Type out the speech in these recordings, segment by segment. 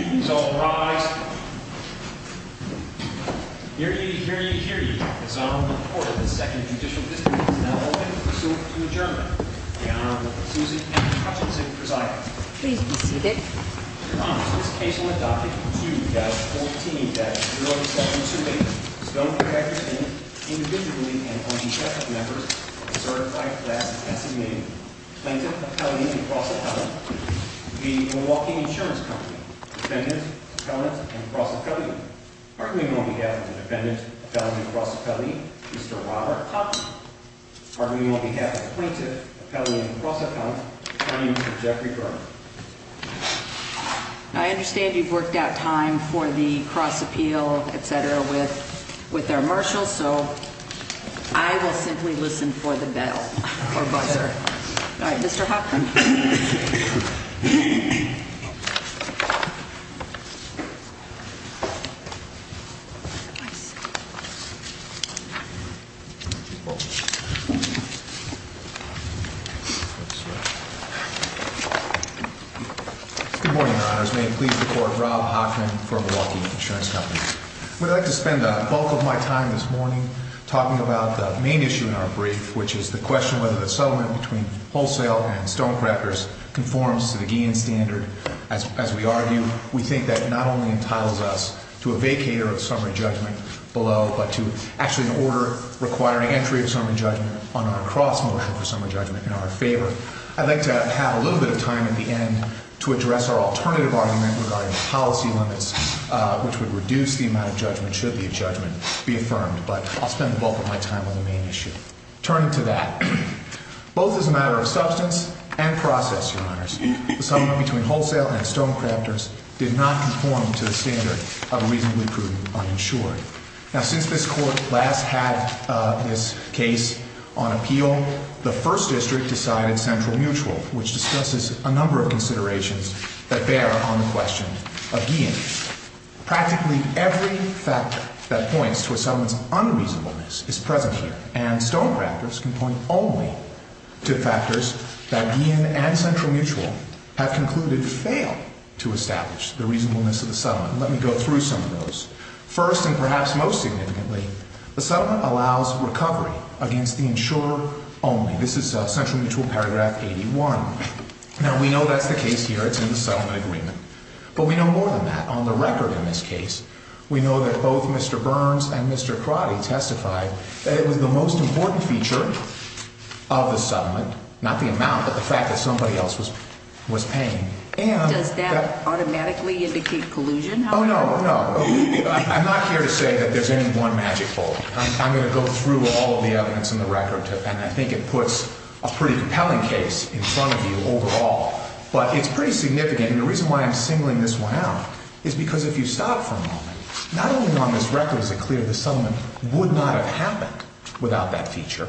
Students, all rise. Hear ye, hear ye, hear ye. His Honor, the Court of the Second Judicial District is now open for pursuant to adjournment. The Honorable Susan M. Hutchinson presides. Please be seated. Your Honor, this case will adopt it from June of 2014 that the New York Assault Intimidators, Stonecrackers, Inc., individually and on behalf of members of the certified class designated plaintiff, appellee, and cross-appellant, the Milwaukee Insurance Company, defendant, appellant, and cross-appellant. Pardon me on behalf of the defendant, appellant, and cross-appellant, Mr. Robert Hopkin. Pardon me on behalf of the plaintiff, appellant, and cross-appellant, attorney, Mr. Jeffrey Garner. I understand you've worked out time for the cross-appeal, et cetera, with our marshal, so I will simply listen for the bell or buzzer. All right, Mr. Hopkin. Good morning, Your Honors. May it please the Court, Rob Hopkin for Milwaukee Insurance Company. I would like to spend the bulk of my time this morning talking about the main issue in our brief, which is the question whether the settlement between Wholesale and Stonecrafters conforms to the Guillen standard. As we argue, we think that not only entitles us to a vacator of summary judgment below, but to actually an order requiring entry of summary judgment on our cross-motion for summary judgment in our favor. I'd like to have a little bit of time at the end to address our alternative argument regarding policy limits, which would reduce the amount of judgment should the judgment be affirmed, but I'll spend the bulk of my time on the main issue. Turning to that, both as a matter of substance and process, Your Honors, the settlement between Wholesale and Stonecrafters did not conform to the standard of a reasonably prudent uninsured. Now, since this Court last had this case on appeal, the First District decided central mutual, which discusses a number of considerations that bear on the question of Guillen. Practically every factor that points to a settlement's unreasonableness is present here, and Stonecrafters can point only to factors that Guillen and central mutual have concluded fail to establish the reasonableness of the settlement. Let me go through some of those. First, and perhaps most significantly, the settlement allows recovery against the insurer only. This is Central Mutual Paragraph 81. Now, we know that's the case here. It's in the settlement agreement. But we know more than that. On the record in this case, we know that both Mr. Burns and Mr. Crotty testified that it was the most important feature of the settlement, not the amount, but the fact that somebody else was paying. And that- Does that automatically indicate collusion, however? Oh, no, no. I'm not here to say that there's any one magic bullet. I'm going to go through all of the evidence in the record, and I think it puts a pretty compelling case in front of you overall. But it's pretty significant, and the reason why I'm singling this one out is because if you stop for a moment, not only on this record is it clear that the settlement would not have happened without that feature,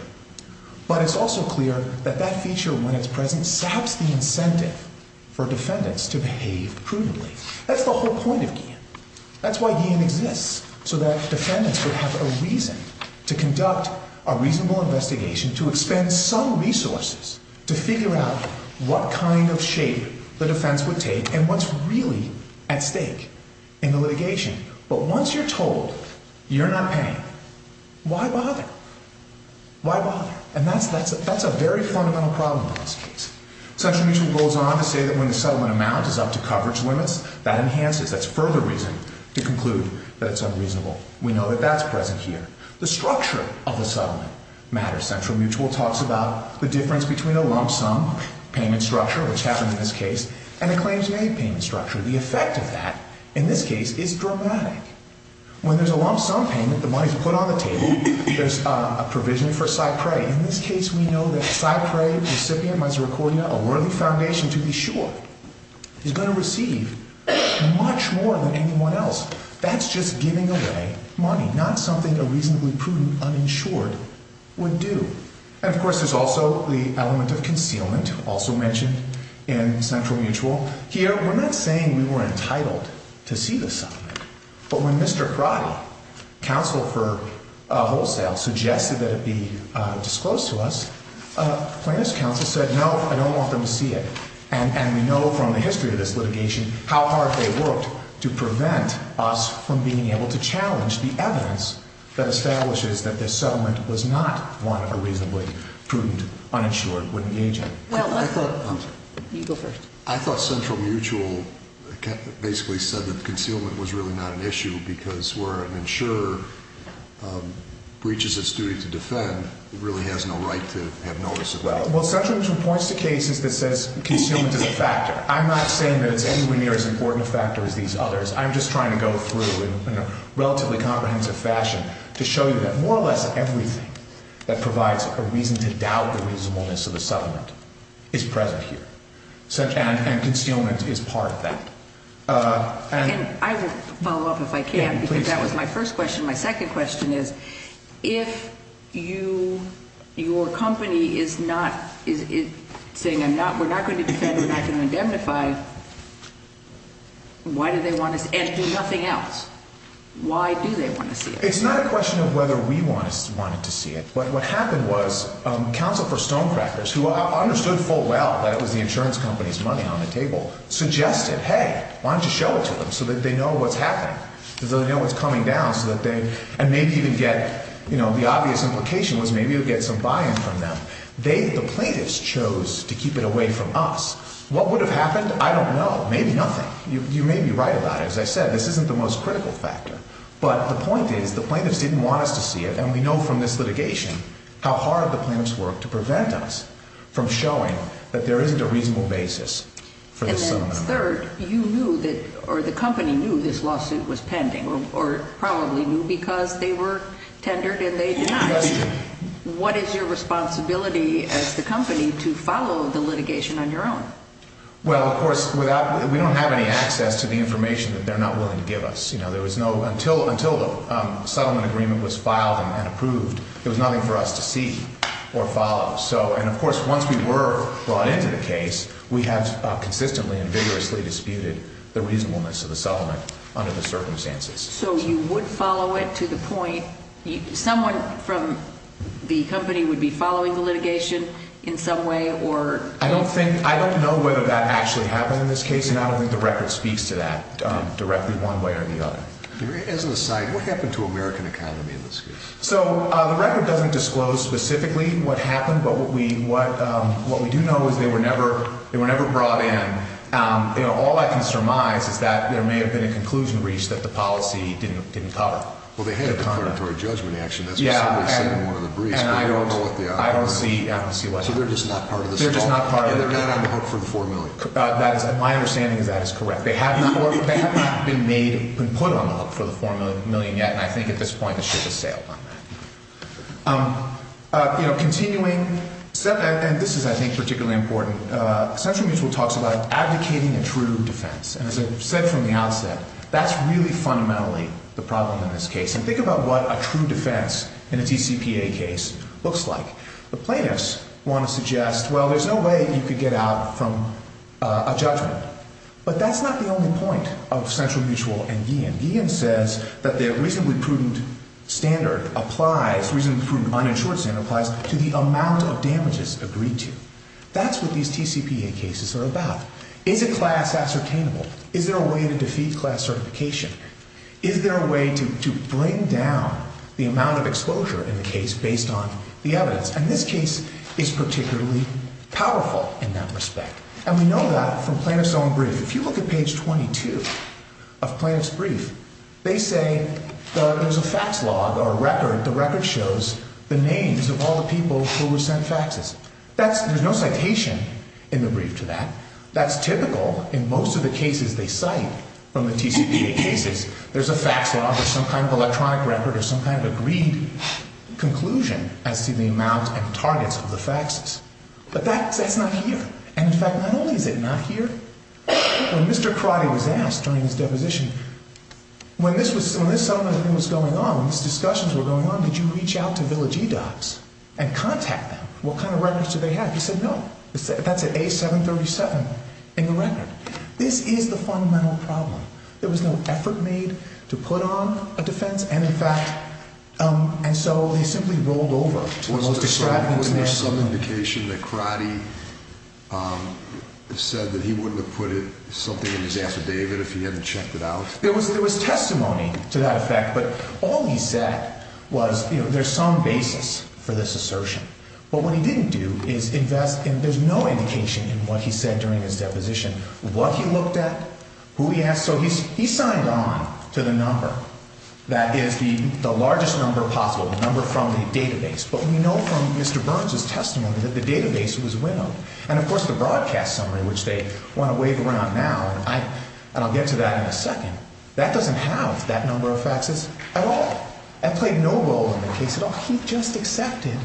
but it's also clear that that feature, when it's present, saps the incentive for defendants to behave prudently. That's the whole point of GIAN. That's why GIAN exists, so that defendants would have a reason to conduct a reasonable investigation, to expend some resources to figure out what kind of shape the defense would take and what's really at stake in the litigation. But once you're told you're not paying, why bother? Why bother? And that's a very fundamental problem in this case. Central Mutual goes on to say that when the settlement amount is up to coverage limits, that enhances, that's further reason to conclude that it's unreasonable. We know that that's present here. The structure of the settlement matters. Central Mutual talks about the difference between a lump sum payment structure, which happened in this case, and a claims-made payment structure. The effect of that, in this case, is dramatic. When there's a lump sum payment, the money's put on the table, there's a provision for cypre. In this case, we know that cypre, recipient misericordia, a worthy foundation to be sure, is going to receive much more than anyone else. That's just giving away money, not something a reasonably prudent uninsured would do. And of course, there's also the element of concealment, also mentioned in Central Mutual. Here, we're not saying we were entitled to see the settlement, but when Mr. Karate, counsel for wholesale, suggested that it be disclosed to us, plaintiff's counsel said, no, I don't want them to see it. And we know from the history of this litigation how hard they worked to prevent us from being able to challenge the evidence that establishes that this settlement was not one a reasonably prudent uninsured would engage in. Well, I thought... You go first. I thought Central Mutual basically said that concealment was really not an issue because where an insurer breaches its duty to defend, it really has no right to have notice of that. Well, Central Mutual points to cases that says concealment is a factor. I'm not saying that it's anywhere near as important a factor as these others. I'm just trying to go through in a relatively comprehensive fashion to show you that more or less everything that provides a reason to doubt the reasonableness of the settlement is present here. And concealment is part of that. And I will follow up if I can, because that was my first question. My second question is, if your company is saying, we're not going to defend, we're not going to indemnify, why do they want to see it and do nothing else? Why do they want to see it? It's not a question of whether we wanted to see it. What happened was Counsel for Stonecrackers, who understood full well that it was the insurance company's money on the table, suggested, hey, why don't you show it to them so that they know what's happening, so that they know what's coming down, and maybe even get, you know, the obvious implication was maybe you'll get some buy-in from them. They, the plaintiffs, chose to keep it away from us. What would have happened? I don't know. Maybe nothing. You may be right about it. As I said, this isn't the most critical factor. But the point is the plaintiffs didn't want us to see it, and we know from this litigation how hard the plaintiffs worked to prevent us from showing that there isn't a reasonable basis for this settlement. And then third, you knew that, or the company knew this lawsuit was pending, or probably knew because they were tendered and they denied. That's true. What is your responsibility as the company to follow the litigation on your own? Well, of course, without, we don't have any access to the information that they're not willing to give us. You know, there was no, until the settlement agreement was filed and approved, there was nothing for us to see or follow. So, and of course, once we were brought into the case, we have consistently and vigorously disputed the reasonableness of the settlement under the circumstances. So you would follow it to the point, someone from the company would be following the litigation in some way, or? I don't think, I don't know whether that actually happened in this case, and I don't think the record speaks to that directly one way or the other. As an aside, what happened to American economy in this case? So the record doesn't disclose specifically what happened, but what we do know is they were never brought in. You know, all I can surmise is that there may have been a conclusion breached that the policy didn't cover. Well, they had a declaratory judgment action. That's what somebody said in one of the briefs. And I don't see what happened. So they're just not part of this at all? They're just not part of it. And they're not on the hook for the $4 million? That is, my understanding is that is correct. They have not been made, been put on the hook for the $4 million yet, and I think at this point it should have sailed on that. You know, continuing, and this is, I think, particularly important. Central Mutual talks about advocating a true defense. And as I said from the outset, that's really fundamentally the problem in this case. And think about what a true defense in a DCPA case looks like. The plaintiffs want to suggest, well, there's no way you could get out from a judgment. But that's not the only point of Central Mutual and Guillen. Guillen says that their reasonably prudent standard applies, reasonably prudent uninsured standard applies, to the amount of damages agreed to. That's what these TCPA cases are about. Is a class ascertainable? Is there a way to defeat class certification? Is there a way to bring down the amount of exposure in the case based on the evidence? And this case is particularly powerful in that respect. And we know that from plaintiff's own brief. If you look at page 22 of plaintiff's brief, they say there's a fax log or a record. The record shows the names of all the people who were sent faxes. There's no citation in the brief to that. That's typical in most of the cases they cite from the TCPA cases. There's a fax log or some kind of electronic record or some kind of agreed conclusion as to the amount and targets of the faxes. But that's not here. And in fact, not only is it not here, when Mr. Crotty was asked during his deposition, when this settlement was going on, when these discussions were going on, did you reach out to Village E-Docs and contact them? What kind of records did they have? He said, no. That's an A737 in the record. This is the fundamental problem. There was no effort made to put on a defense. And in fact, and so they simply rolled over to the most distracting... Was there some indication that Crotty said that he wouldn't have put something in his affidavit if he hadn't checked it out? There was testimony to that effect. But all he said was, you know, there's some basis for this assertion. But what he didn't do is invest, and there's no indication in what he said during his deposition, what he looked at, who he asked. So he signed on to the number that is the largest number possible, the number from the database. But we know from Mr. Burns' testimony that the database was winnowed. And of course, the broadcast summary, which they want to wave around now, and I'll get to that in a second, that doesn't have that number of faxes at all. That played no role in the case at all. He just accepted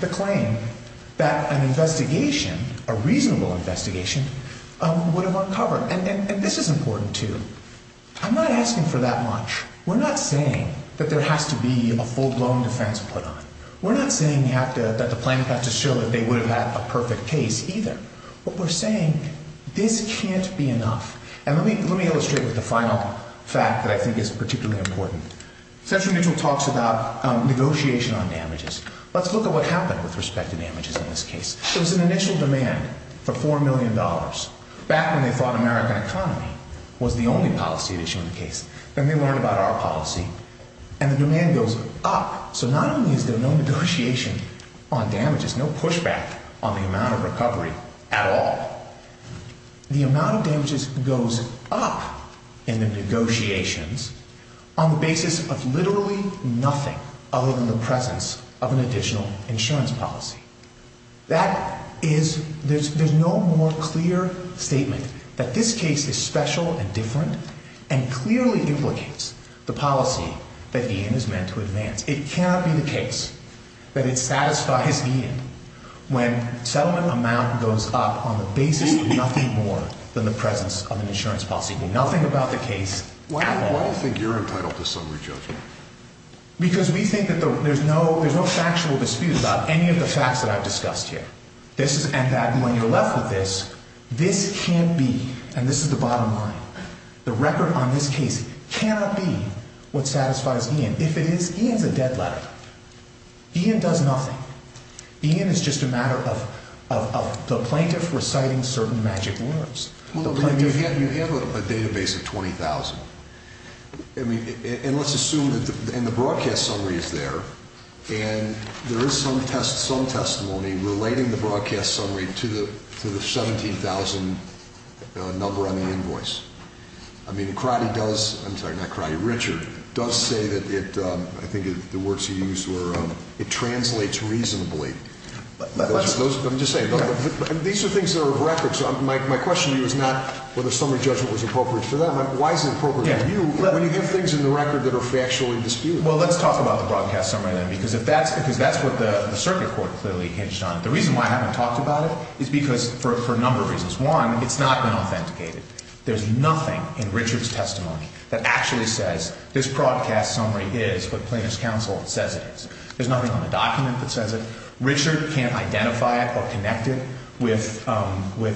the claim that an investigation, a reasonable investigation, would have uncovered. And this is important, too. I'm not asking for that much. We're not saying that there has to be a full-blown defense put on. We're not saying that the plaintiff had to show that they would have had a perfect case, either. What we're saying, this can't be enough. And let me illustrate with the final fact that I think is particularly important. Cedric Mitchell talks about negotiation on damages. Let's look at what happened with respect to damages in this case. There was an initial demand for $4 million back when they thought American economy was the only policy at issue in the case. Then they learned about our policy, and the demand goes up. So not only is there no negotiation on damages, no pushback on the amount of recovery at all, the amount of damages goes up in the negotiations on the basis of literally nothing other than the presence of an additional insurance policy. That is, there's no more clear statement that this case is special and different and clearly implicates the policy that Ian is meant to advance. It cannot be the case that it satisfies Ian when settlement amount goes up on the basis of nothing more than the presence of an insurance policy, nothing about the case at all. Why do you think you're entitled to summary judgment? Because we think that there's no factual dispute about any of the facts that I've discussed here, and that when you're left with this, this can't be, and this is the bottom line, the record on this case cannot be what satisfies Ian. If it is, Ian's a dead letter. Ian does nothing. Ian is just a matter of the plaintiff reciting certain magic words. Well, but you have a database of 20,000. I mean, and let's assume, and the broadcast summary is there, and there is some testimony relating the broadcast summary to the 17,000 number on the invoice. I mean, Crotty does, I'm sorry, not Crotty, Richard does say that it, I think the words he used were, it translates reasonably. I'm just saying, these are things that are of record, so my question to you is not whether summary judgment was appropriate for them. Why is it appropriate for you when you have things in the record that are factually disputed? Well, let's talk about the broadcast summary then, because that's what the circuit court clearly hinged on. The reason why I haven't talked about it is because for a number of reasons. One, it's not been authenticated. There's nothing in Richard's testimony that actually says this broadcast summary is what plaintiff's counsel says it is. There's nothing on the document that says it. Richard can't identify it or connect it with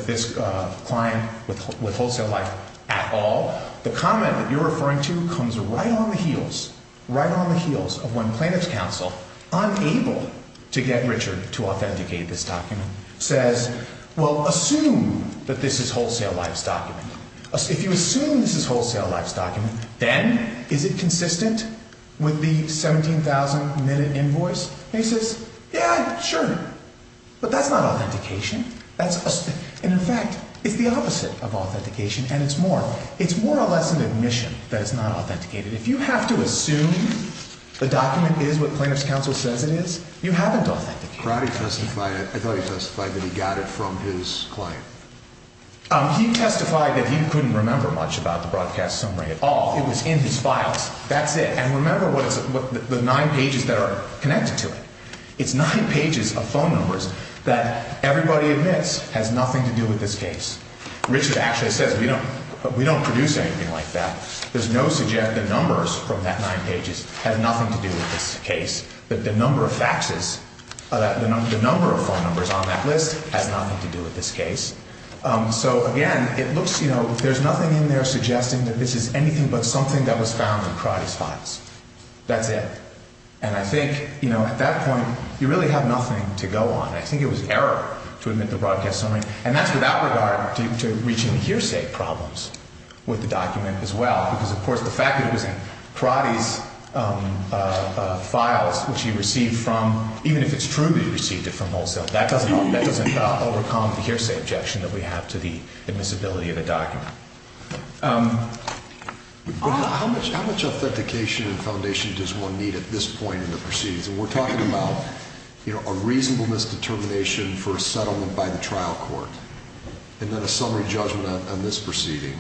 this client, with Wholesale Life at all. The comment that you're referring to comes right on the heels, right on the heels of when plaintiff's counsel, unable to get Richard to authenticate this document, says, well, assume that this is Wholesale Life's document. If you assume this is Wholesale Life's document, then is it consistent with the 17,000 minute invoice? And he says, yeah, sure. But that's not authentication. That's, and in fact, it's the opposite of authentication and it's more, it's more or less an admission that it's not authenticated. If you have to assume the document is what plaintiff's counsel says it is, you haven't authenticated. Karate testified, I thought he testified that he got it from his client. He testified that he couldn't remember much about the broadcast summary at all. It was in his files, that's it. And remember what it's, the nine pages that are connected to it. It's nine pages of phone numbers that everybody admits has nothing to do with this case. Richard actually says, we don't produce anything like that. There's no, the numbers from that nine pages have nothing to do with this case. But the number of faxes, the number of phone numbers on that list has nothing to do with this case. So again, it looks, you know, there's nothing in there suggesting that this is anything but something that was found in Karate's files. That's it. And I think, you know, at that point, you really have nothing to go on. I think it was error to admit the broadcast summary. And that's without regard to reaching hearsay problems with the document as well. Because of course, the fact that it was in Karate's files, which he received from, even if it's true that he received it from wholesale, that doesn't overcome the hearsay objection that we have to the admissibility of the document. How much authentication and foundation does one need at this point in the proceedings? And we're talking about, you know, a reasonable misdetermination for a settlement by the trial court. And then a summary judgment on this proceeding.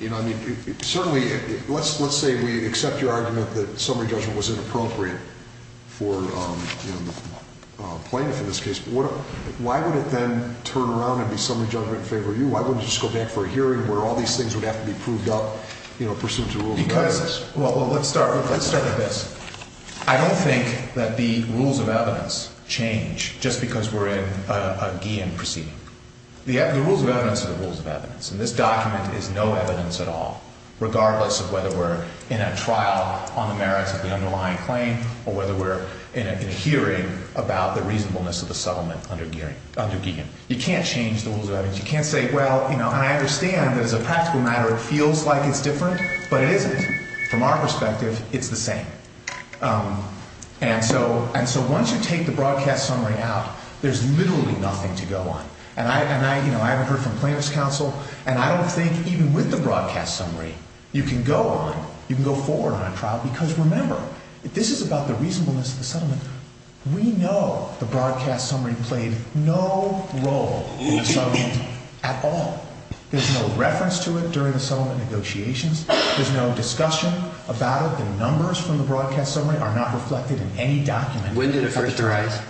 You know, I mean, certainly, let's say we accept your argument that summary judgment was inappropriate for, you know, plaintiff in this case. Why would it then turn around and be summary judgment in favor of you? Why wouldn't it just go back for a hearing where all these things would have to be proved up, you know, pursuant to rules of evidence? Because, well, let's start with this. I don't think that the rules of evidence change just because we're in a Guillain proceeding. The rules of evidence are the rules of evidence. And this document is no evidence at all, on the merits of the underlying claim or whether we're in a hearing about the reasonableness of the settlement under Guillain. You can't change the rules of evidence. You can't say, well, you know, I understand there's a practical matter. It feels like it's different. But it isn't. From our perspective, it's the same. And so once you take the broadcast summary out, there's literally nothing to go on. And I, you know, I haven't heard from plaintiff's counsel. And I don't think even with the broadcast summary, you can go on, you can go forward on a trial. Because remember, this is about the reasonableness of the settlement. We know the broadcast summary played no role in the settlement at all. There's no reference to it during the settlement negotiations. There's no discussion about it. The numbers from the broadcast summary are not reflected in any document. When did it first arise?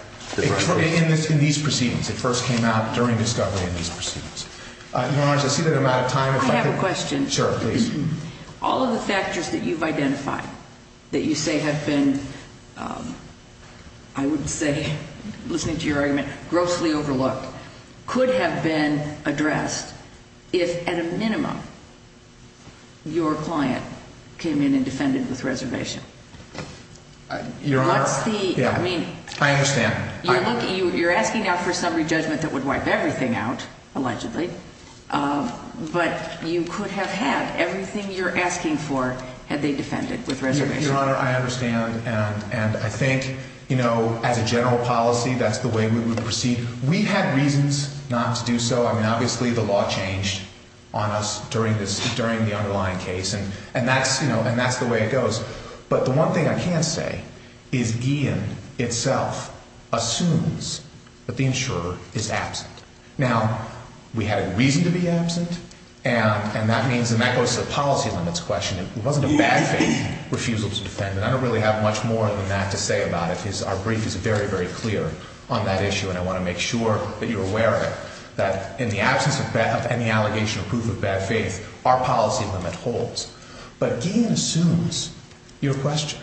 In these proceedings. It first came out during discovery in these proceedings. Your Honor, I see that I'm out of time. I have a question. Sure, please. All of the factors that you've identified, that you say have been, I would say, listening to your argument, grossly overlooked, could have been addressed if, at a minimum, your client came in and defended with reservation. Your Honor, I understand. You're asking now for summary judgment that would wipe everything out, allegedly. But you could have had everything you're asking for had they defended with reservation. Your Honor, I understand. And I think, you know, as a general policy, that's the way we would proceed. We had reasons not to do so. I mean, obviously, the law changed on us during this, during the underlying case. And that's, you know, and that's the way it goes. But the one thing I can say is Guillen itself assumes that the insurer is absent. Now, we had a reason to be absent, and that means, and that goes to the policy limits question. It wasn't a bad faith refusal to defend, but I don't really have much more than that to say about it. Our brief is very, very clear on that issue, and I want to make sure that you're aware of it, that in the absence of any allegation or proof of bad faith, our policy limit holds. But Guillen assumes your question.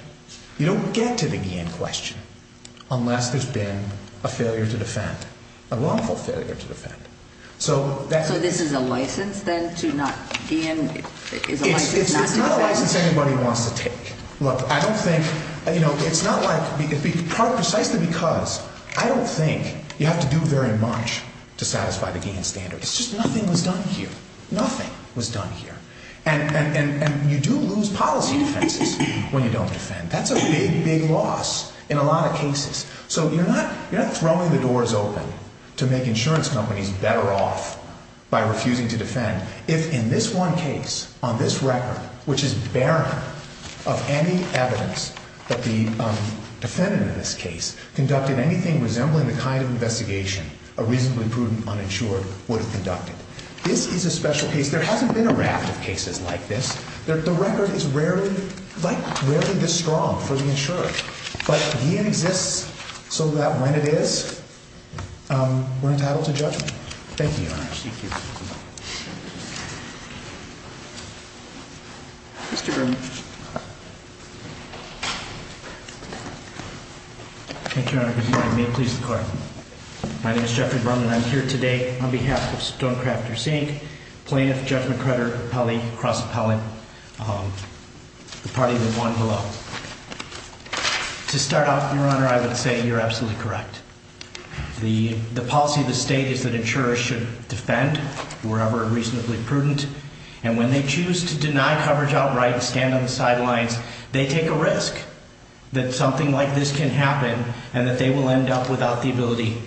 You don't get to the Guillen question unless there's been a wrongful failure to defend, a wrongful failure to defend. So that's... So this is a license then to not, Guillen is a license not to defend? It's not a license anybody wants to take. Look, I don't think, you know, it's not like, precisely because I don't think you have to do very much to satisfy the Guillen standard. It's just nothing was done here. Nothing was done here. And you do lose policy defenses when you don't defend. That's a big, big loss in a lot of cases. So you're not throwing the doors open to make insurance companies better off by refusing to defend. If in this one case, on this record, which is barren of any evidence that the defendant in this case conducted anything resembling the kind of investigation a reasonably prudent uninsured would have conducted. This is a special case. There hasn't been a raft of cases like this. The record is rarely, like, rarely this strong for the insurer. But Guillen exists so that when it is, we're entitled to judgment. Thank you, Your Honor. Thank you. Mr. Berman. Thank you, Your Honor. May it please the court. My name is Jeffrey Berman. I'm here today on behalf of Stonecrafters Inc. Plaintiff Jeff McCrudder, cross appellate, the party that won below. To start off, Your Honor, I would say you're absolutely correct. The policy of the state is that insurers should defend wherever reasonably prudent. And when they choose to deny coverage outright and stand on the sidelines, they take a risk that something like this can happen and that they will end up without the ability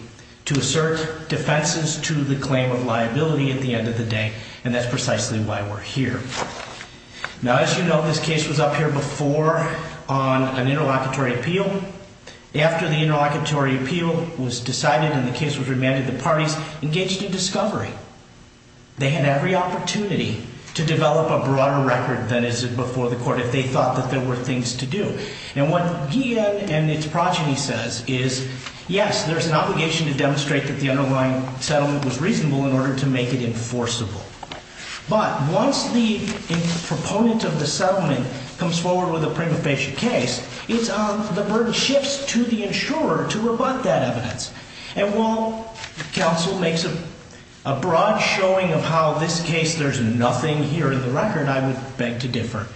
to assert defenses to the claim of liability at the end of the day. And that's precisely why we're here. Now, as you know, this case was up here before on an interlocutory appeal. After the interlocutory appeal was decided and the case was remanded, the parties engaged in discovery. They had every opportunity to develop a broader record than is before the court if they thought that there were things to do. And what he and its progeny says is, yes, there's an obligation to demonstrate that the underlying settlement was reasonable in order to make it enforceable. But once the proponent of the settlement comes forward with a prima facie case, the burden shifts to the insurer to rebut that evidence. And while counsel makes a broad showing of how this case, there's nothing here in the record, I would beg to differ.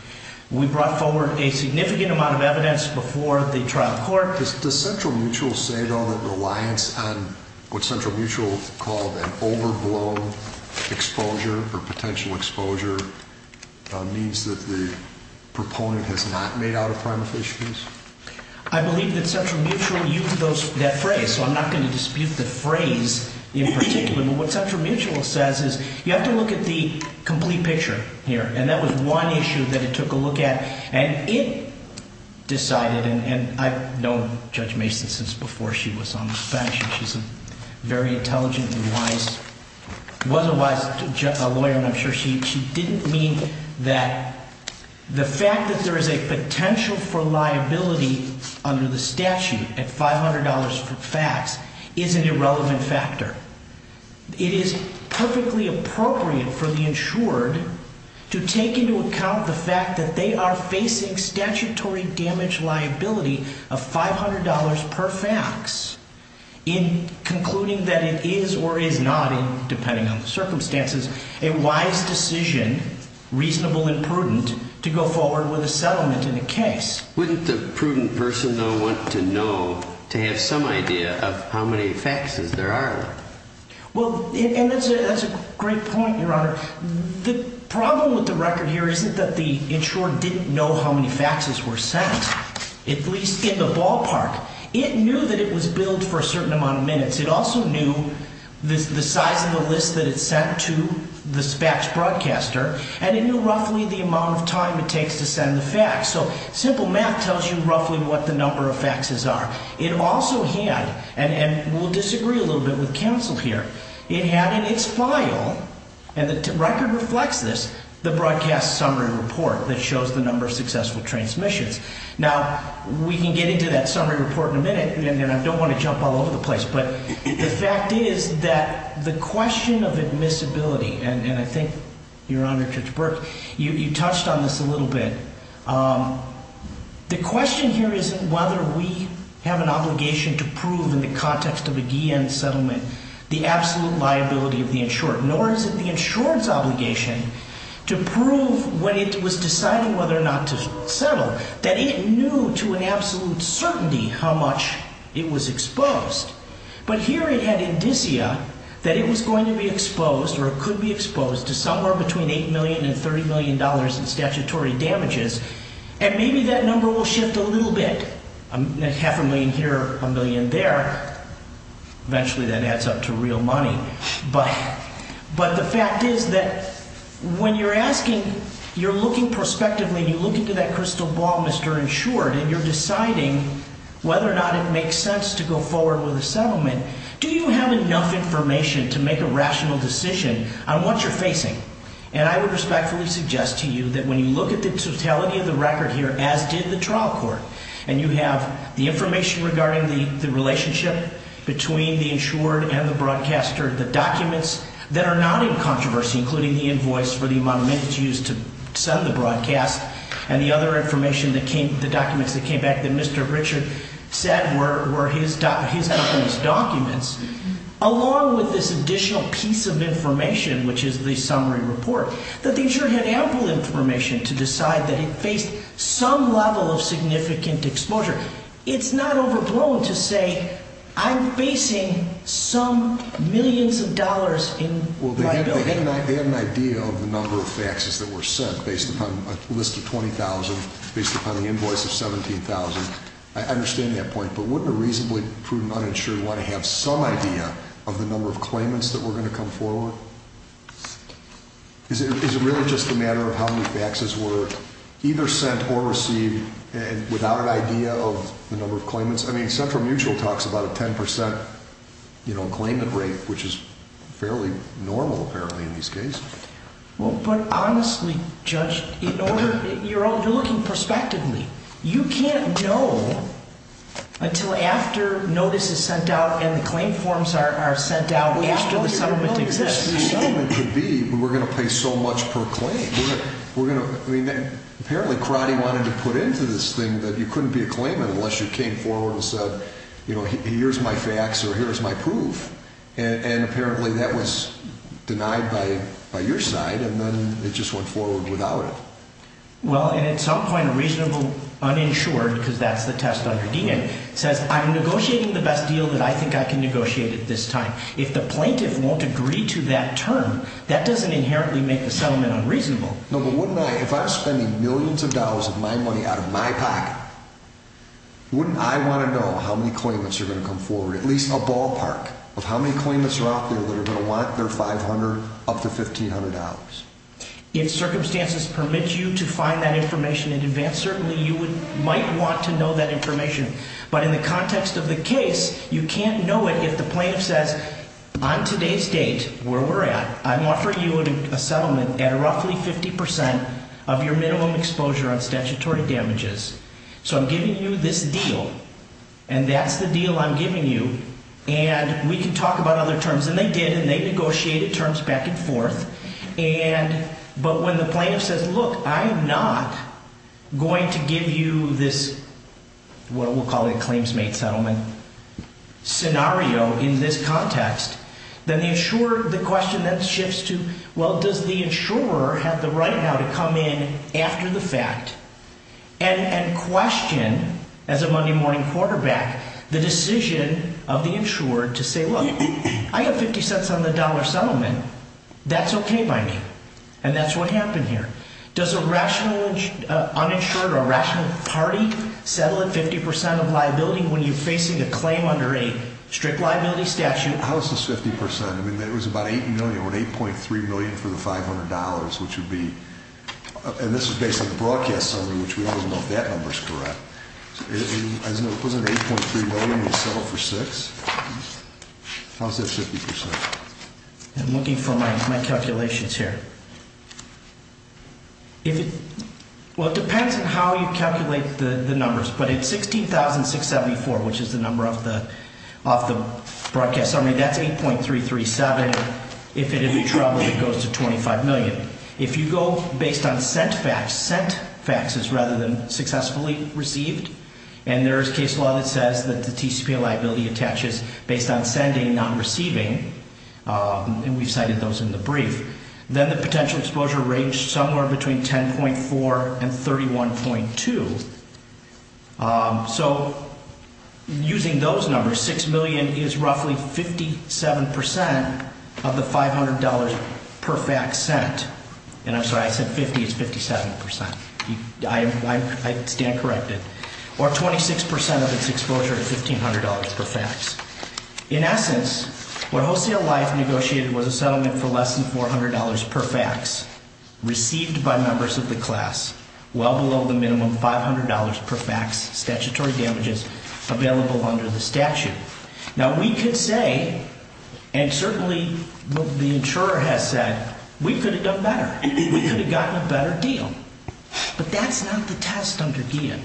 We brought forward a significant amount of evidence before the trial court. Does Central Mutual say, though, that reliance on what Central Mutual called an overblown exposure or potential exposure means that the proponent has not made out a prima facie case? I believe that Central Mutual used that phrase. So I'm not going to dispute the phrase in particular. But what Central Mutual says is, you have to look at the complete picture here. And that was one issue that it took a look at. And it decided, and I've known Judge Mason since before she was on the bench, and she's a very intelligent and wise, was a wise lawyer, and I'm sure she didn't mean that the fact that there is a potential for liability under the statute at $500 for facts is an irrelevant factor. It is perfectly appropriate for the insured to take into account the fact that they are facing statutory damage liability of $500 per fax in concluding that it is or is not, depending on the circumstances, a wise decision, reasonable and prudent, to go forward with a settlement in the case. Wouldn't the prudent person, though, want to know, to have some idea of how many faxes there are? Well, and that's a great point, Your Honor. The problem with the record here isn't that the insured didn't know how many faxes were sent, at least in the ballpark. It knew that it was billed for a certain amount of minutes. It also knew the size of the list that it sent to the fax broadcaster, and it knew roughly the amount of time it takes to send the fax. So simple math tells you roughly what the number of faxes are. It also had, and we'll disagree a little bit with counsel here, it had in its file, and the record reflects this, the broadcast summary report that shows the number of successful transmissions. Now, we can get into that summary report in a minute, and I don't want to jump all over the place, but the fact is that the question of admissibility, and I think, Your Honor, Judge Burke, you touched on this a little bit. The question here isn't whether we have an obligation to prove in the context of a Guillen settlement the absolute liability of the insured, nor is it the insured's obligation to prove when it was decided whether or not to settle that it knew to an absolute certainty how much it was exposed. But here it had indicia that it was going to be exposed or it could be exposed to somewhere between $8 million and $30 million in statutory damages, and maybe that number will shift a little bit. Half a million here, a million there. Eventually that adds up to real money. But the fact is that when you're asking, you're looking prospectively, and you look into that crystal ball, Mr. Insured, and you're deciding whether or not it makes sense to go forward with a settlement, do you have enough information to make a rational decision on what you're facing? And I would respectfully suggest to you that when you look at the totality of the record here, as did the trial court, and you have the information regarding the relationship between the insured and the broadcaster, the documents that are not in controversy, including the invoice for the amount of minutes used to send the broadcast, and the other information that came, the documents that came back that Mr. Richard said were his company's documents, along with this additional piece of information, which is the summary report, that the insured had ample information to decide that it faced some level of significant exposure. It's not overblown to say, I'm facing some millions of dollars in liability. Well, they had an idea of the number of faxes that were sent based upon a list of 20,000, based upon the invoice of 17,000. I understand that point, but wouldn't a reasonably prudent uninsured want to have some idea of the number of claimants that were going to come forward? Is it really just a matter of how many faxes were either sent or received without an idea of the number of claimants? I mean, Central Mutual talks about a 10% claimant rate, which is fairly normal, apparently, in these cases. Well, but honestly, Judge, you're looking prospectively. You can't know until after notice is sent out and the claim forms are sent out after the settlement exists. The settlement could be, we're going to pay so much per claim. Apparently, Karate wanted to put into this thing that you couldn't be a claimant unless you came forward and said, here's my fax or here's my proof. And apparently, that was denied by your side and then it just went forward without it. Well, and at some point, a reasonable uninsured, because that's the test on your DNA, says, I'm negotiating the best deal that I think I can negotiate at this time. If the plaintiff won't agree to that term, that doesn't inherently make the settlement unreasonable. No, but wouldn't I, if I'm spending millions of dollars of my money out of my pocket, wouldn't I want to know how many claimants are going to come forward? At least a ballpark of how many claimants are out there that are going to want their 500 up to $1,500. If circumstances permit you to find that information in advance, certainly you might want to know that information. But in the context of the case, you can't know it if the plaintiff says, on today's date, where we're at, I'm offering you a settlement at roughly 50% of your minimum exposure on statutory damages. So I'm giving you this deal and that's the deal I'm giving you and we can talk about other terms. And they did and they negotiated terms back and forth. And, but when the plaintiff says, look, I'm not going to give you this, what we'll call a claims-made settlement scenario in this context, then the insurer, the question then shifts to, well, does the insurer have the right now to come in after the fact and question, as a Monday morning quarterback, the decision of the insured to say, look, I have 50 cents on the dollar settlement. That's okay by me. And that's what happened here. Does a rational uninsured or rational party settle at 50% of liability when you're facing a claim under a strict liability statute? How is this 50%? I mean, it was about $8 million. We're at $8.3 million for the $500, which would be, and this is based on the broadcast summary, which we don't even know if that number's correct. I just know it was under $8.3 million. We settled for six. How's that 50%? I'm looking for my calculations here. If it, well, it depends on how you calculate the numbers. But at 16,674, which is the number of the broadcast summary, that's 8.337. If it had been troubled, it goes to 25 million. If you go based on sent fax, sent faxes rather than successfully received, and there is case law that says that the TCPA liability attaches based on sending, not receiving, and we've cited those in the brief, then the potential exposure ranged somewhere between 10.4 and 31.2. So using those numbers, six million is roughly 57% of the $500 per fax sent. And I'm sorry, I said 50, it's 57%. I stand corrected. Or 26% of its exposure at $1,500 per fax. In essence, what Wholesale Life negotiated was a settlement for less than $400 per fax received by members of the class, well below the minimum $500 per fax statutory damages available under the statute. Now we could say, and certainly the insurer has said, we could have done better. We could have gotten a better deal. But that's not the test, Dr. Guillen.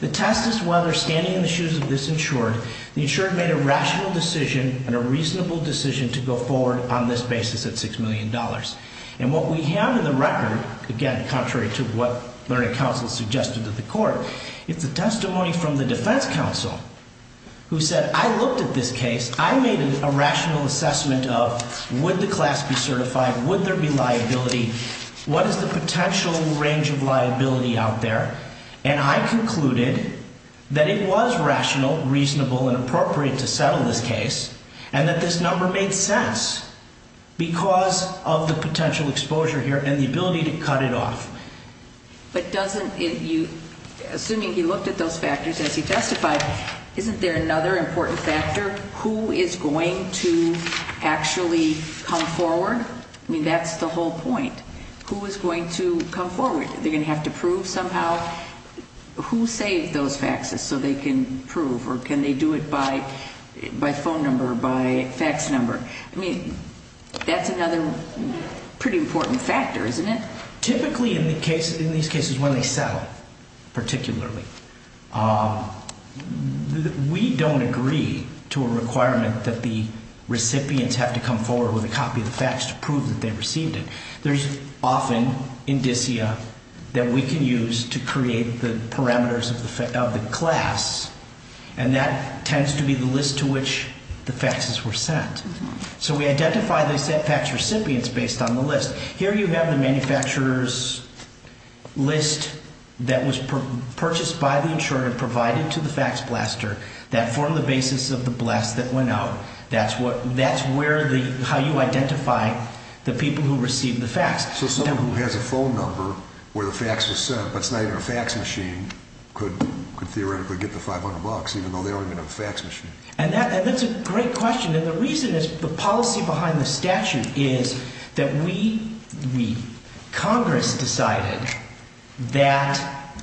The test is whether standing in the shoes of this insured, the insured made a rational decision and a reasonable decision to go forward on this basis at $6 million. again, contrary to what Learning Council suggested to the court, it's a testimony from the defense counsel who said, I looked at this case, I made a rational assessment of, would the class be certified? Would there be liability? What is the potential range of liability out there? And I concluded that it was rational, reasonable and appropriate to settle this case. And that this number made sense because of the potential exposure here and the ability to cut it off. But doesn't it, assuming he looked at those factors as he testified, isn't there another important factor? Who is going to actually come forward? I mean, that's the whole point. Who is going to come forward? They're gonna have to prove somehow who saved those faxes so they can prove or can they do it by phone number or by fax number? I mean, that's another pretty important factor, isn't it? Typically, in these cases, when they settle, particularly, we don't agree to a requirement that the recipients have to come forward with a copy of the fax to prove that they received it. There's often indicia that we can use to create the parameters of the class. And that tends to be the list to which the faxes were sent. So we identify the fax recipients based on the list. Here you have the manufacturer's list that was purchased by the insurer, provided to the fax blaster, that formed the basis of the blast that went out. That's how you identify the people who received the fax. So someone who has a phone number where the fax was sent, but it's not even a fax machine, could theoretically get the 500 bucks even though they don't even have a fax machine. And that's a great question. And the reason is the policy behind the statute is that we, Congress, decided that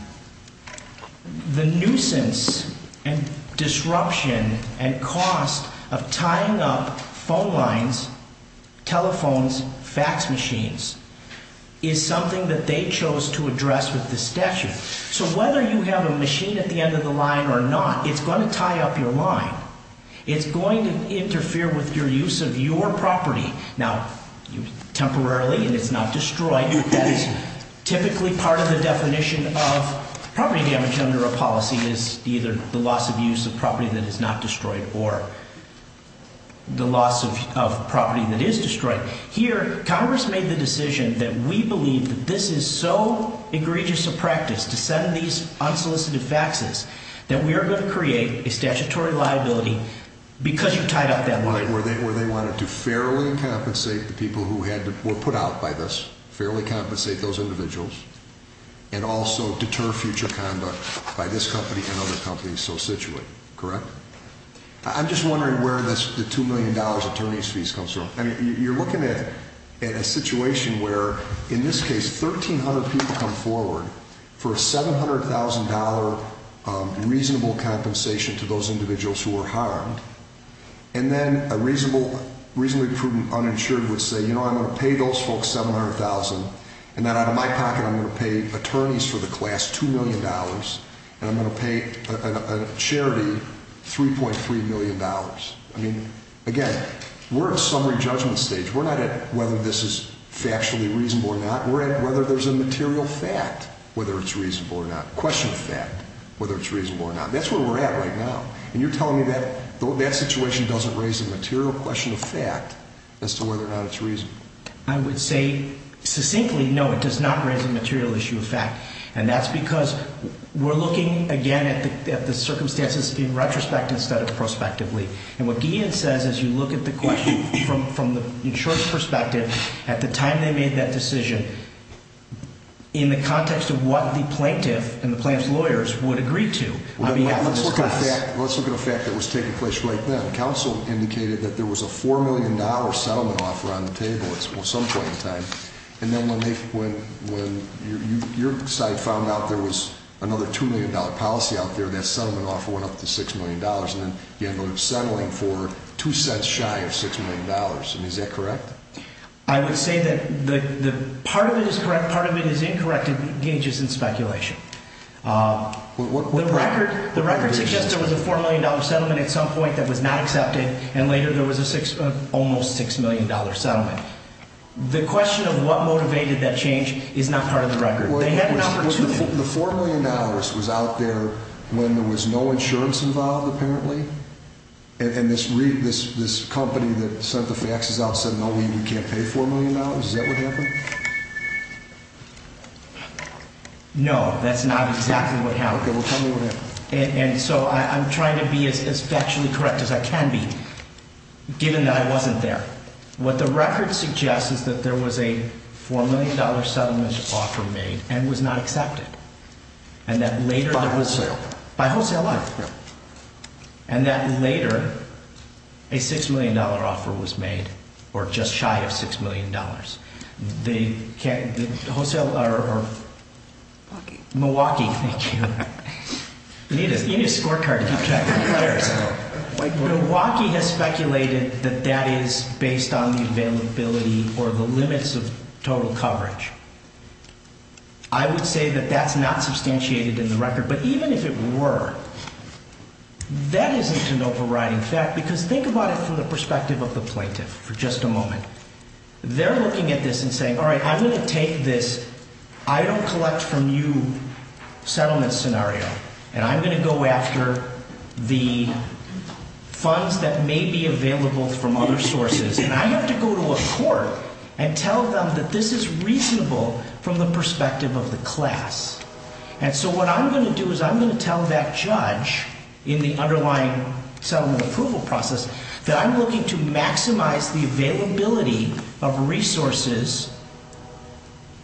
the nuisance and disruption and cost of tying up phone lines, telephones, fax machines, is something that they chose to address with the statute. So whether you have a machine at the end of the line or not, it's going to tie up your line. It's going to interfere with your use of your property. Now, temporarily, and it's not destroyed, that is typically part of the definition of property damage under a policy is either the loss of use of property that is not destroyed or the loss of property that is destroyed. Here, Congress made the decision that we believe that this is so egregious a practice to send these unsolicited faxes that we are going to create a statutory liability because you tied up that line. Right, where they wanted to fairly compensate the people who were put out by this, fairly compensate those individuals, and also deter future conduct by this company and other companies so situate, correct? I'm just wondering where the $2 million attorney's fees comes from. I mean, you're looking at a situation where, in this case, 1,300 people come forward for a $700,000 reasonable compensation to those individuals who were harmed. And then a reasonably prudent uninsured would say, you know, I'm going to pay those folks $700,000 and then out of my pocket, I'm going to pay attorneys for the class $2 million and I'm going to pay a charity $3.3 million. I mean, again, we're at summary judgment stage. We're not at whether this is factually reasonable or not. We're at whether there's a material fact whether it's reasonable or not, question of fact whether it's reasonable or not. That's where we're at right now. And you're telling me that that situation doesn't raise a material question of fact as to whether or not it's reasonable. I would say, succinctly, no, it does not raise a material issue of fact. And that's because we're looking, again, at the circumstances being retrospective instead of prospectively. And what Guillen says is you look at the question from the insurer's perspective at the time they made that decision in the context of what the plaintiff and the plaintiff's lawyers would agree to on behalf of this class. Let's look at a fact that was taking place right then. Counsel indicated that there was a $4 million settlement offer on the table at some point in time. And then when your side found out there was another $2 million policy out there, that settlement offer went up to $6 million. And then you ended up settling for two cents shy of $6 million. I mean, is that correct? I would say that part of it is correct, part of it is incorrect. It engages in speculation. The record suggests there was a $4 million settlement at some point that was not accepted and later there was an almost $6 million settlement. The question of what motivated that change is not part of the record. The $4 million was out there when there was no insurance involved, apparently? And this company that sent the faxes out said, no, we can't pay $4 million. Is that what happened? No, that's not exactly what happened. And so I'm trying to be as factually correct as I can be, given that I wasn't there. What the record suggests is that there was a $4 million settlement offer made and was not accepted. By wholesale? By wholesale, yeah. And that later a $6 million offer was made or just shy of $6 million. The wholesale or... Milwaukee. Milwaukee, thank you. You need a scorecard to keep track of the players. Milwaukee has speculated that that is based on the availability or the limits of total coverage. I would say that that's not substantiated in the record, but even if it were, that isn't an overriding fact because think about it from the perspective of the plaintiff for just a moment. They're looking at this and saying, all right, I'm going to take this I-don't-collect-from-you settlement scenario and I'm going to go after the funds that may be available from other sources and I have to go to a court and tell them that this is reasonable from the perspective of the class. And so what I'm going to do is I'm going to tell that judge in the underlying settlement approval process that I'm looking to maximize the availability of resources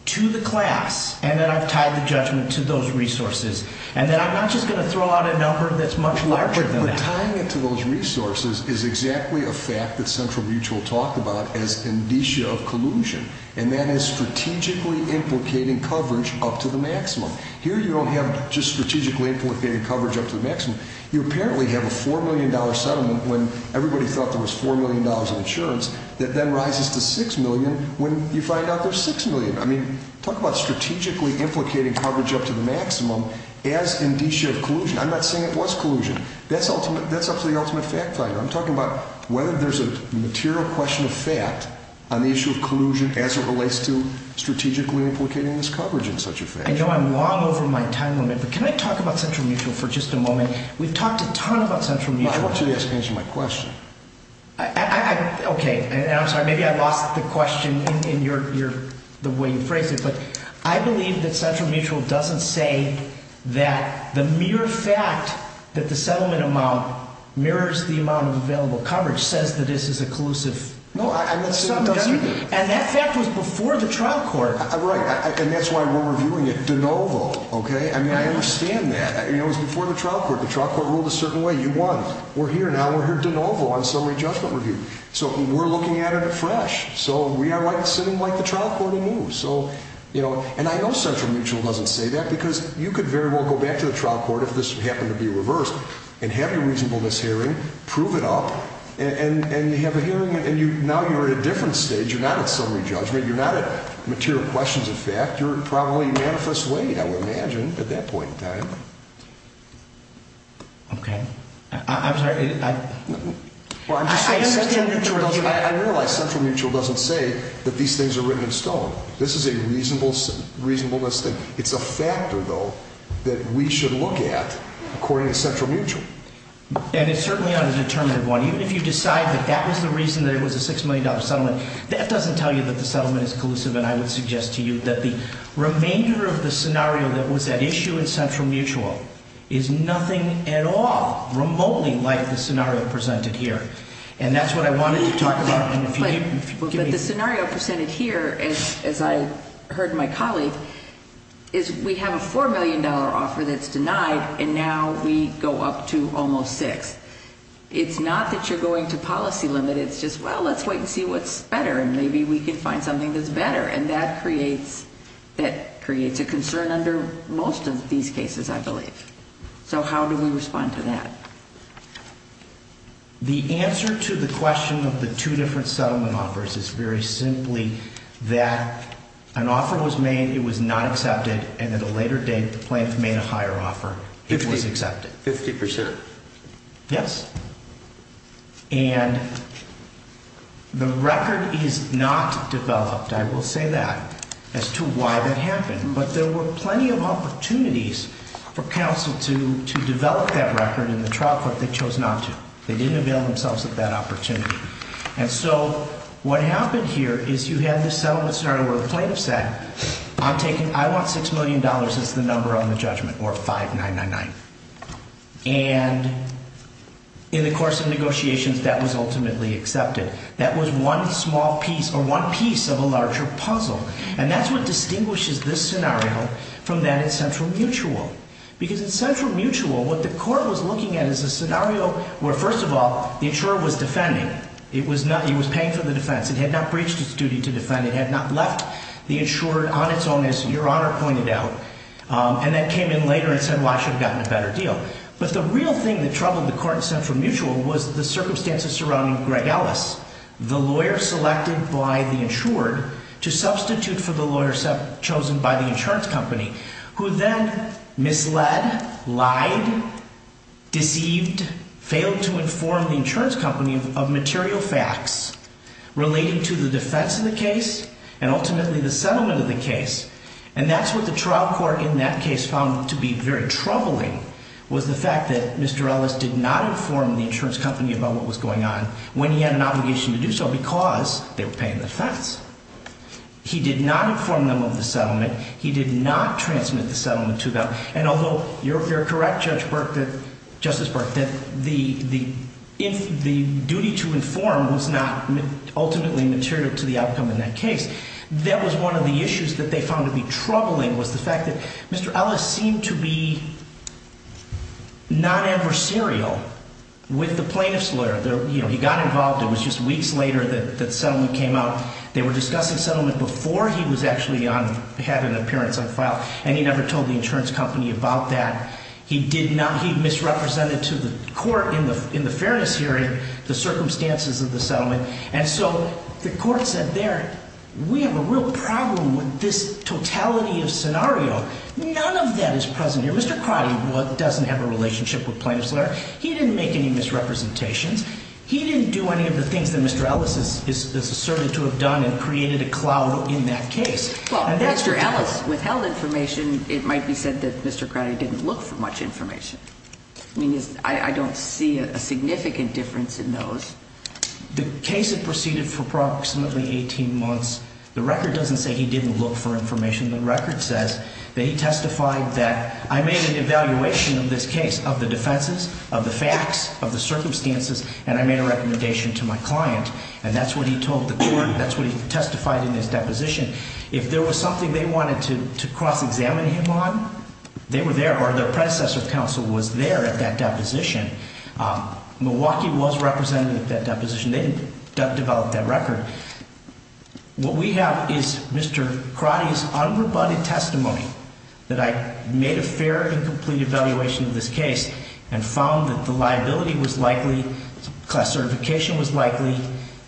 to the class and that I've tied the judgment to those resources and that I'm not just going to throw out a number that's much larger than that. But tying it to those resources is exactly a fact that Central Mutual talked about as indicia of collusion and that is strategically implicating coverage up to the maximum. Here you don't have just strategically implicating coverage up to the maximum. You apparently have a $4 million settlement when everybody thought there was $4 million in insurance that then rises to $6 million when you find out there's $6 million. I mean, talk about strategically implicating coverage up to the maximum as indicia of collusion. I'm not saying it was collusion. That's up to the ultimate fact finder. I'm talking about whether there's a material question of fact on the issue of collusion as it relates to strategically implicating this coverage in such a fashion. I know I'm long over my time limit but can I talk about Central Mutual for just a moment? We've talked a ton about Central Mutual. I want you to answer my question. Okay. I'm sorry, maybe I lost the question in the way you phrased it but I believe that Central Mutual doesn't say that the mere fact that the settlement amount mirrors the amount of available coverage says that this is a collusive sum. No, I'm not saying it doesn't. And that fact was before the trial court. Right. And that's why we're reviewing it de novo. Okay? I understand that. It was before the trial court. The trial court ruled a certain way. You won. We're here now. We're here de novo on summary judgment review. So we're looking at it afresh. So we are sitting like the trial court and move. And I know Central Mutual doesn't say that because you could very well go back to the trial court if this happened to be reversed and have your reasonableness hearing, prove it up, and have a hearing and now you're at a different stage. You're not at summary judgment. You're not at material questions of fact. You're probably manifest weight, I would imagine, at that point in time. Okay. I'm sorry. Well, I'm just saying Central Mutual doesn't... I realize Central Mutual doesn't say that these things are written in stone. This is a reasonableness thing. It's a factor, though, that we should look at according to Central Mutual. And it's certainly on a determinative one. Even if you decide that that was the reason that it was a $6 million settlement, that doesn't tell you that the settlement is collusive. And I would suggest to you that the remainder of the scenario that was at issue in Central Mutual is nothing at all remotely like the scenario presented here. And that's what I wanted to talk about. But the scenario presented here, as I heard my colleague, is we have a $4 million offer that's denied and now we go up to almost $6 million. It's not that you're going to policy limit. It's just, well, let's wait and see what's better and maybe we can find something that's better. And that creates a concern under most of these cases, I believe. So how do we respond to that? The answer to the question of the two different settlement offers is very simply that an offer was made, it was not accepted, and at a later date the plaintiff made a higher offer, it was accepted. 50%? Yes. And the record is not developed. I will say that as to why that happened. But there were plenty of opportunities for counsel to develop that record in the trial court they chose not to. They didn't avail themselves of that opportunity. And so what happened here is you have this settlement scenario where the plaintiff said, I want $6 million as the number on the judgment, or 5999. And in the course of negotiations, that was ultimately accepted. That was one small piece, or one piece of a larger puzzle. And that's what distinguishes this scenario from that in Central Mutual. Because in Central Mutual, what the court was looking at is a scenario where, first of all, the insurer was defending. He was paying for the defense. It had not breached its duty to defend. It had not left the insurer on its own, as Your Honor pointed out, and then came in later and said, well, I should have gotten a better deal. But the real thing that troubled the court in Central Mutual was the circumstances surrounding Greg Ellis, the lawyer selected by the insured to substitute for the lawyer chosen by the insurance company, who then misled, lied, deceived, failed to inform the insurance company of material facts relating to the defense of the case and ultimately the settlement of the case. And that's what the trial court in that case found to be very troubling, was the fact that Mr. Ellis did not inform the insurance company about what was going on when he had an obligation to do so, because they were paying the defense. He did not inform them of the settlement. He did not transmit the settlement to them. And although you're correct, Justice Burke, that the duty to inform was not ultimately material to the outcome in that case, that was one of the issues that they found to be troubling, was the fact that Mr. Ellis seemed to be non-adversarial with the plaintiff's lawyer. He got involved. It was just weeks later that the settlement came out. They were discussing settlement before he had an appearance on file, and he never told the insurance company about that. He misrepresented to the court in the fairness hearing the circumstances of the settlement. And so the court said, there, we have a real problem with this totality of scenario. None of that is present here. Mr. Crotty doesn't have a relationship with plaintiff's lawyer. He didn't make any misrepresentations. He didn't do any of the things that Mr. Ellis is asserted to have done and created a cloud in that case. Well, Mr. Ellis withheld information. It might be said that Mr. Crotty didn't look for much information. I mean, I don't see a significant difference in those. The case had proceeded for approximately 18 months. The record doesn't say he didn't look for information. The record says that he testified that I made an evaluation of this case of the defenses, of the facts, of the circumstances, and I made a recommendation to my client. And that's what he told the court. That's what he testified in his deposition. If there was something they wanted to cross-examine him on, they were there, or their predecessor counsel was there at that deposition. Milwaukee was represented at that deposition. They didn't develop that record. What we have is Mr. Crotty's unrebutted testimony that I made a fair and complete evaluation of this case and found that the liability was likely, class certification was likely,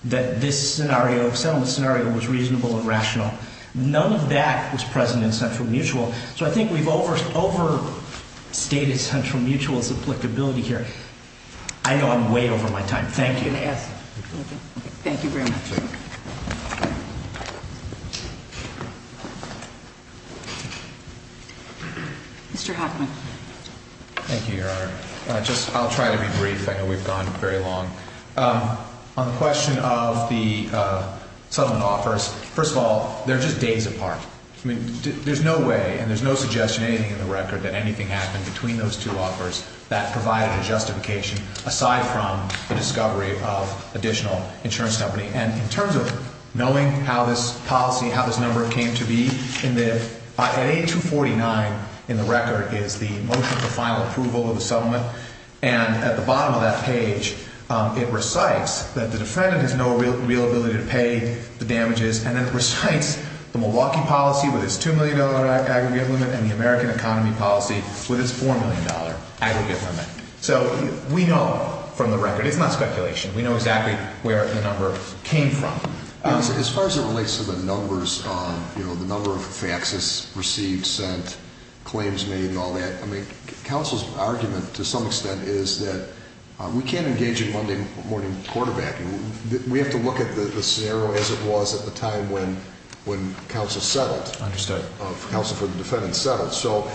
that this settlement scenario was reasonable and rational. None of that was present in central mutual. So I think we've overstated central mutual's applicability here. I know I'm way over my time. Thank you. Thank you very much. Mr. Hoffman. Thank you, Your Honor. I'll try to be brief. I know we've gone very long. On the question of the settlement offers, first of all, they're just days apart. I mean, there's no way, and there's no suggestion in the record that anything happened between those two offers that provided a justification aside from the discovery of additional insurance company and insurance company In terms of knowing how this policy, how this number came to be, at A249 in the record is the motion for final approval of the settlement. And at the bottom of that page, it recites that the defendant has no real ability to pay the damages. And then it recites the Milwaukee policy with its $2 million aggregate limit and the American economy policy with its $4 million aggregate limit. So we know from the record, it's not speculation, we know exactly where the number came from. As far as it relates to the numbers, you know, the number of faxes received, sent, claims made, and all that, I mean, counsel's argument to some extent is that we can't engage in Monday morning quarterbacking. We have to look at the scenario as it was at the time when counsel settled. Understood. Counsel for the defendant settled. So,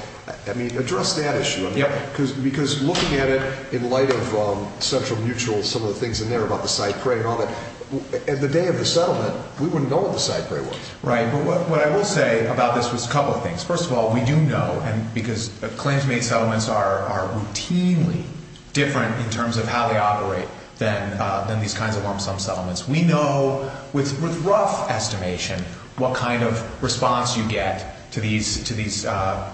I mean, address that issue. Yep. Because looking at it in light of central mutual, some of the things in there about the side prey and all that, at the day of the settlement, we wouldn't know what the side prey was. Right. But what I will say about this was a couple of things. First of all, we do know, because claims made settlements are routinely different in terms of how they operate than these kinds of lump sum settlements. We know, with rough estimation, what kind of response you get to these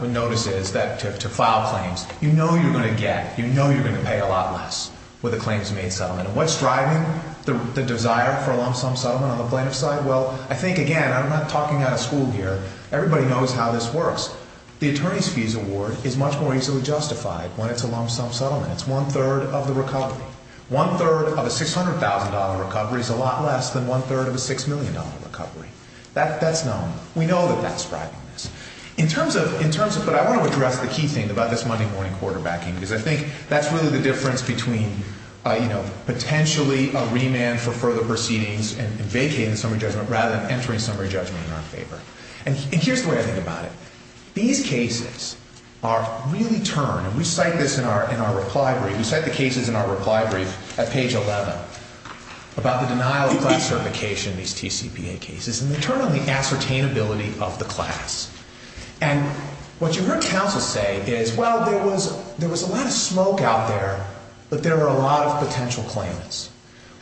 notices that, to file claims. You know you're going to get, you know you're going to pay a lot less with a claims made settlement. And what's driving the desire for a lump sum settlement on the plaintiff's side? Well, I think, again, I'm not talking out of school gear. Everybody knows how this works. The attorney's fees award is much more easily justified when it's a lump sum settlement. It's one-third of the recovery. One-third of a $600,000 recovery is a lot less than one-third of a $6 million recovery. That's known. We know that that's driving this. In terms of, but I want to address the key thing about this Monday morning quarterbacking because I think that's really the difference between, you know, potentially a remand for further proceedings and vacating summary judgment rather than entering summary judgment in our favor. And here's the way I think about it. These cases are really turned, and we cite this in our reply brief, we cite the cases in our reply brief at page 11 about the denial of class certification, these TCPA cases. And they turn on the ascertainability of the class. And what you heard counsel say is, well, there was a lot of smoke out there, but there were a lot of potential claims.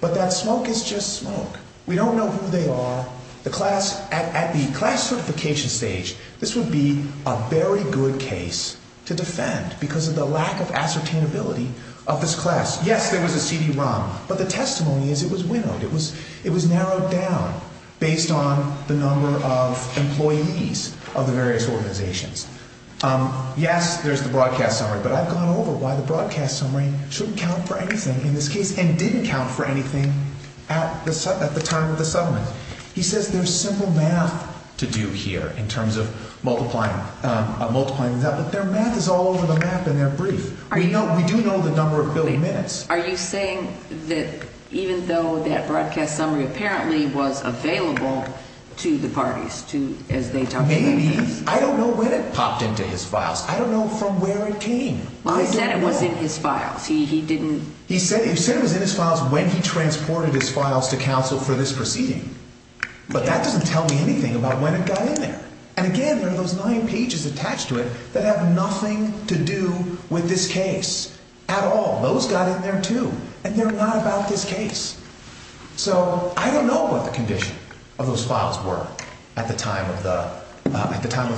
But that smoke is just smoke. We don't know who they are. The class, at the class certification stage, this would be a very good case to defend because of the lack of ascertainability of this class. Yes, there was a CD-ROM, but the testimony is it was winnowed. It was narrowed down based on the number of employees of the various organizations. Yes, there's the broadcast summary, but I've gone over why the broadcast summary shouldn't count for anything in this case and didn't count for anything at the time of the settlement. He says there's simple math to do here in terms of multiplying. But their math is all over the map in their brief. We do know the number of billed minutes. Are you saying that even though that broadcast summary apparently was available to the parties as they talked about this? Maybe. I don't know when it popped into his files. I don't know from where it came. He said it was in his files. He didn't... He said it was in his files when he transported his files to counsel for this proceeding. But that doesn't tell me anything about when it got in there. And again, there are those nine pages attached to it that have nothing to do with this case at all. Those got in there too and they're not about this case. So, I don't know what the condition of those files were at the time of the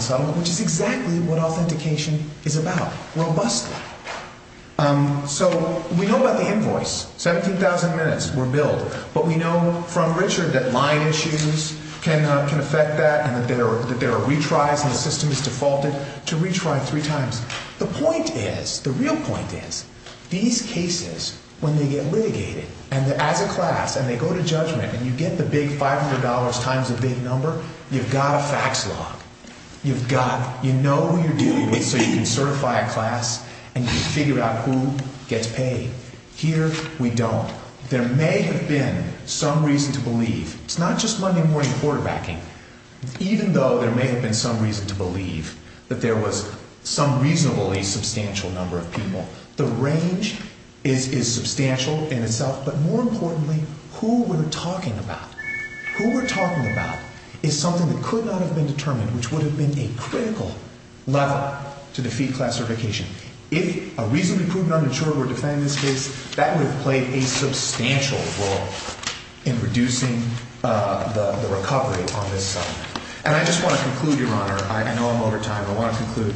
settlement, which is exactly what authentication is about, robustly. So, we know about the invoice. 17,000 minutes were billed. But we know from Richard that line issues can affect that and that there are retries and the system is defaulted to retry three times. The point is, the real point is, these cases, when they get litigated as a class and they go to judgment and you get the big $500 times a big number, you've got a fax log. You've got, you know who you're dealing with so you can certify a class and you can figure out who gets paid. Here, we don't. There may have been some reason to believe, it's not just Monday morning quarterbacking, even though there may have been some reason to believe that there was some reasonably substantial number of people. The range is substantial in itself, but more importantly, who we're talking about. Who we're talking about is something that could not have been determined, which would have been a critical level to defeat class certification. If a reasonably proven uninsured were defending this case, that would have played a substantial role in reducing the recovery on this side. And I just want to conclude, Your Honor, I know I'm over time, but I want to conclude.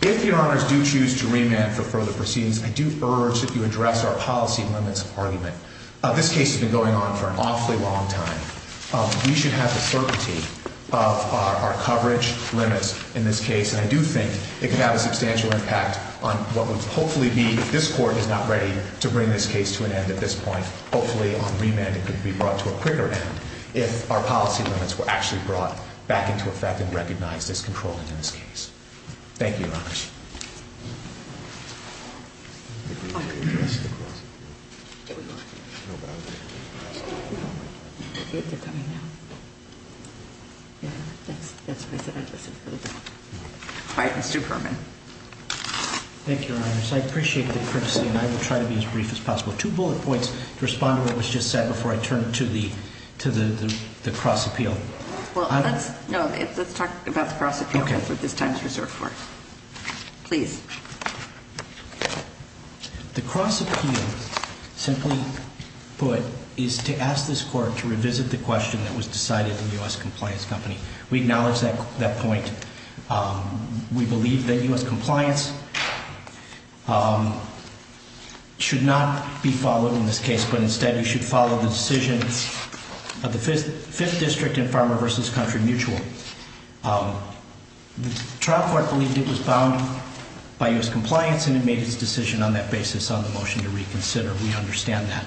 If Your Honors do choose to remand for further proceedings, I do urge that you address our policy limits of argument. This case has been going on for an awfully long time. We should have the certainty of our coverage limits in this case, and I do think it can have a substantial impact on what would hopefully be, if this Court is not ready to bring this case to an end at this point, it could be brought to a quicker end if our policy limits were actually brought back into effect and recognized as controlling in this case. Thank you, Your Honors. All right. Mr. Perlman. Thank you, Your Honors. I appreciate the courtesy, and I will try to be as brief as possible. Two bullet points to respond to what was just said before I turn to the cross-appeal. is reserved for it. Okay. Thank you, Your Honors. Thank you. Thank you. Thank you. Thank you. Thank you. Thank you. Thank you. The cross-appeal simply put is to ask this Court to revisit the question that was decided to the US Compliance Company. We acknowledge that point. We believe that US Compliance should not be followed in this case, but instead we should follow the decision of the Fifth District and Farmer vs. Country Mutual. The trial court believed it was bound by US Compliance and it made its decision on that basis on the motion to reconsider. We understand that.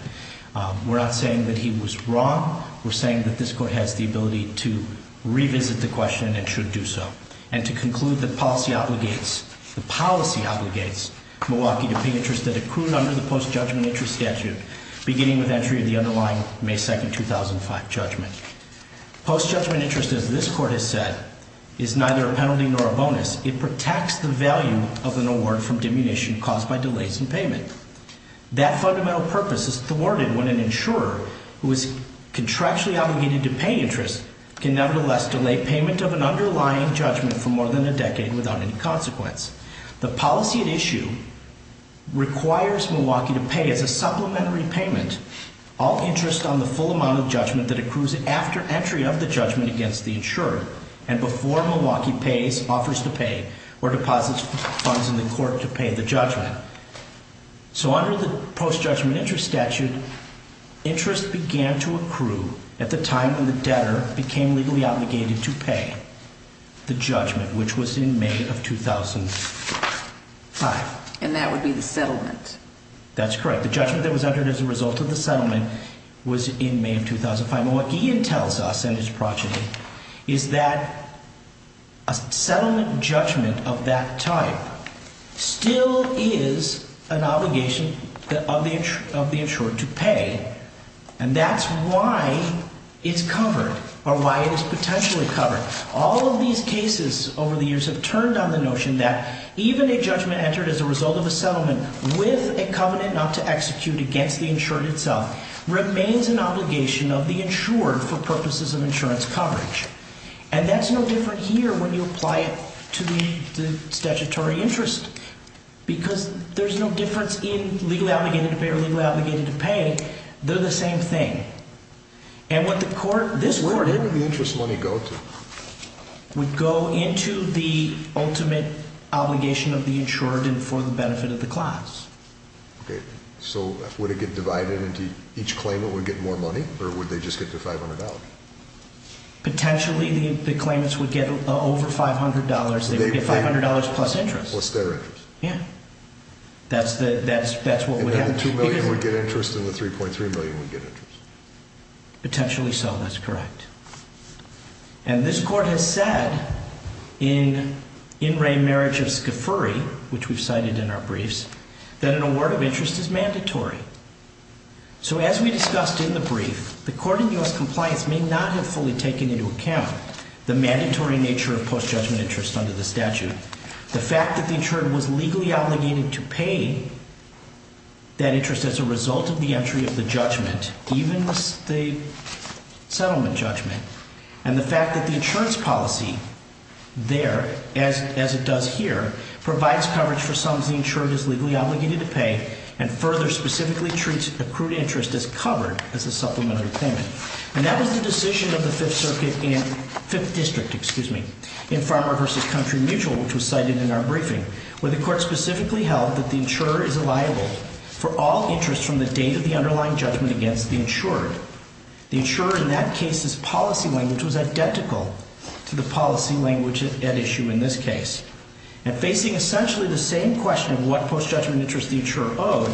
We're not saying that he was wrong. We're saying that this Court has the ability to revisit the question and should do so. And to conclude that decision is not a bonus. It protects the value of an award from diminution caused by delays in payment. That fundamental purpose is thwarted when an insurer who is contractually obligated to pay interest can nevertheless delay payment of an underlying judgment for more than a decade without any consequence. policy at issue requires Milwaukee to pay as a supplementary payment all interest on the full amount of judgment that accrues after entry of the judgment against the insurer. insurer is obligated to pay the judgment which was in May of 2005. And that would be the settlement? That's correct. The judgment that was under as a result of the settlement was in May of 2005. And what Gideon tells us in his progeny is that a settlement judgment of that type still is an obligation of the insurer to pay and that's why it's covered or why it is potentially covered. All of these cases over the years have turned on the notion that even a judgment entered as a result of a settlement with a covenant not to execute against the insurer itself remains an obligation of the insurer for purposes of insurance coverage. And that's no different here when you apply it to the statutory interest because there's no difference in legally obligated to pay or legally obligated obligation of the insurer for the benefit of the class. Okay. So would it get divided into each claimant would get more money or would they just get the $500? Potentially the claimants would get over $500. They would get $500 plus interest. Plus their interest. Yeah. That's what happened. And then the $2 million would get interest and the $3.3 million would get interest. Potentially so. That's correct. And this Court has said in In Re Marriage of Scafuri which we've cited in our briefs that an award of interest is mandatory. So as we discussed in the brief, the Court of U.S. Compliance may not have fully taken into account the mandatory nature of post-judgment interest under the statute. The fact that the insured was legally obligated to pay that interest as a result of the entry of the judgment even the settlement judgment and the fact that the insurance policy there as it does here provides coverage for post-judgment interest. And that was the decision of the Fifth in Farmer versus Country Mutual where the Court specifically held that the insurer is liable for all interest from the date of the underlying judgment against the insurer. The insurer in that case's policy language was identical to the policy language at issue in this case. And facing essentially the same question of what post-judgment interest the insurer owed,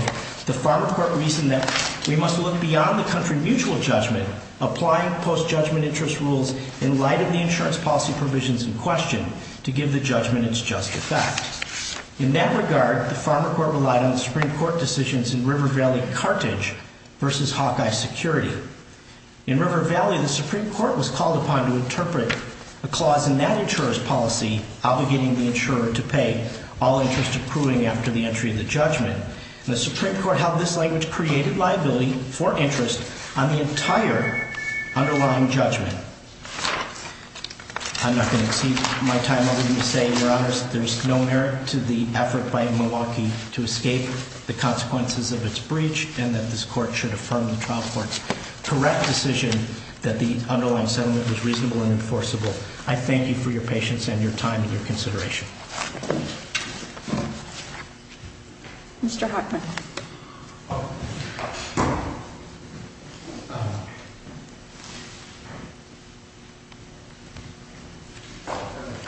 the Farmer Court reasoned that we must look beyond the Country Mutual judgment applying post-judgment interest rules in light of the insurance policy provisions in question to give the judgment its just effect. In that regard, the Farmer Court relied on the Supreme Court decisions in River Valley Carthage versus Hawkeye Security. In River Valley, the Supreme Court was called upon to interpret a clause in that insurer's policy obligating the insurer to pay all interest accruing after the entry of the judgment. And the Supreme Court held this language created liability for interest on the entire underlying judgment. I'm not going to exceed my time over you to say, Your Honors, there's no merit to the effort by Milwaukee to escape the consequences of its breach and that this court should affirm the trial court's correct decision that the underlying settlement was reasonable and enforceable. I thank you for your patience and your time and your consideration. MR. HOCHMAN.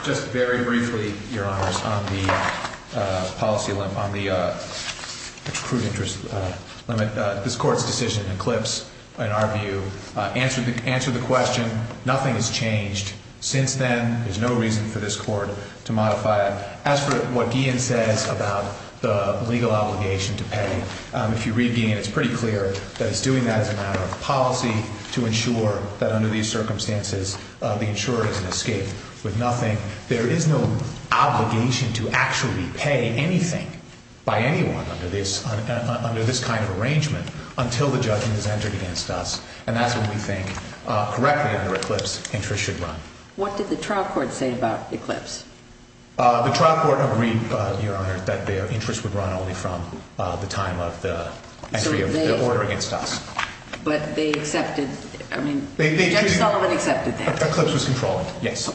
Just very briefly, Your Honors, on the policy on the accrued interest limit, this Court's decision eclipsed, in our view. Answer the question. Nothing has changed since then. There's no reason for this Court to modify it. As for what Guillen says about the legal obligation to pay, if you will, the legal obligation to actually pay anything by anyone under this kind of arrangement until the judgment is entered against us, and that's when we think, correctly, under Eclipse, interest should run. MS. PEPLAUSAN. What did the trial court say about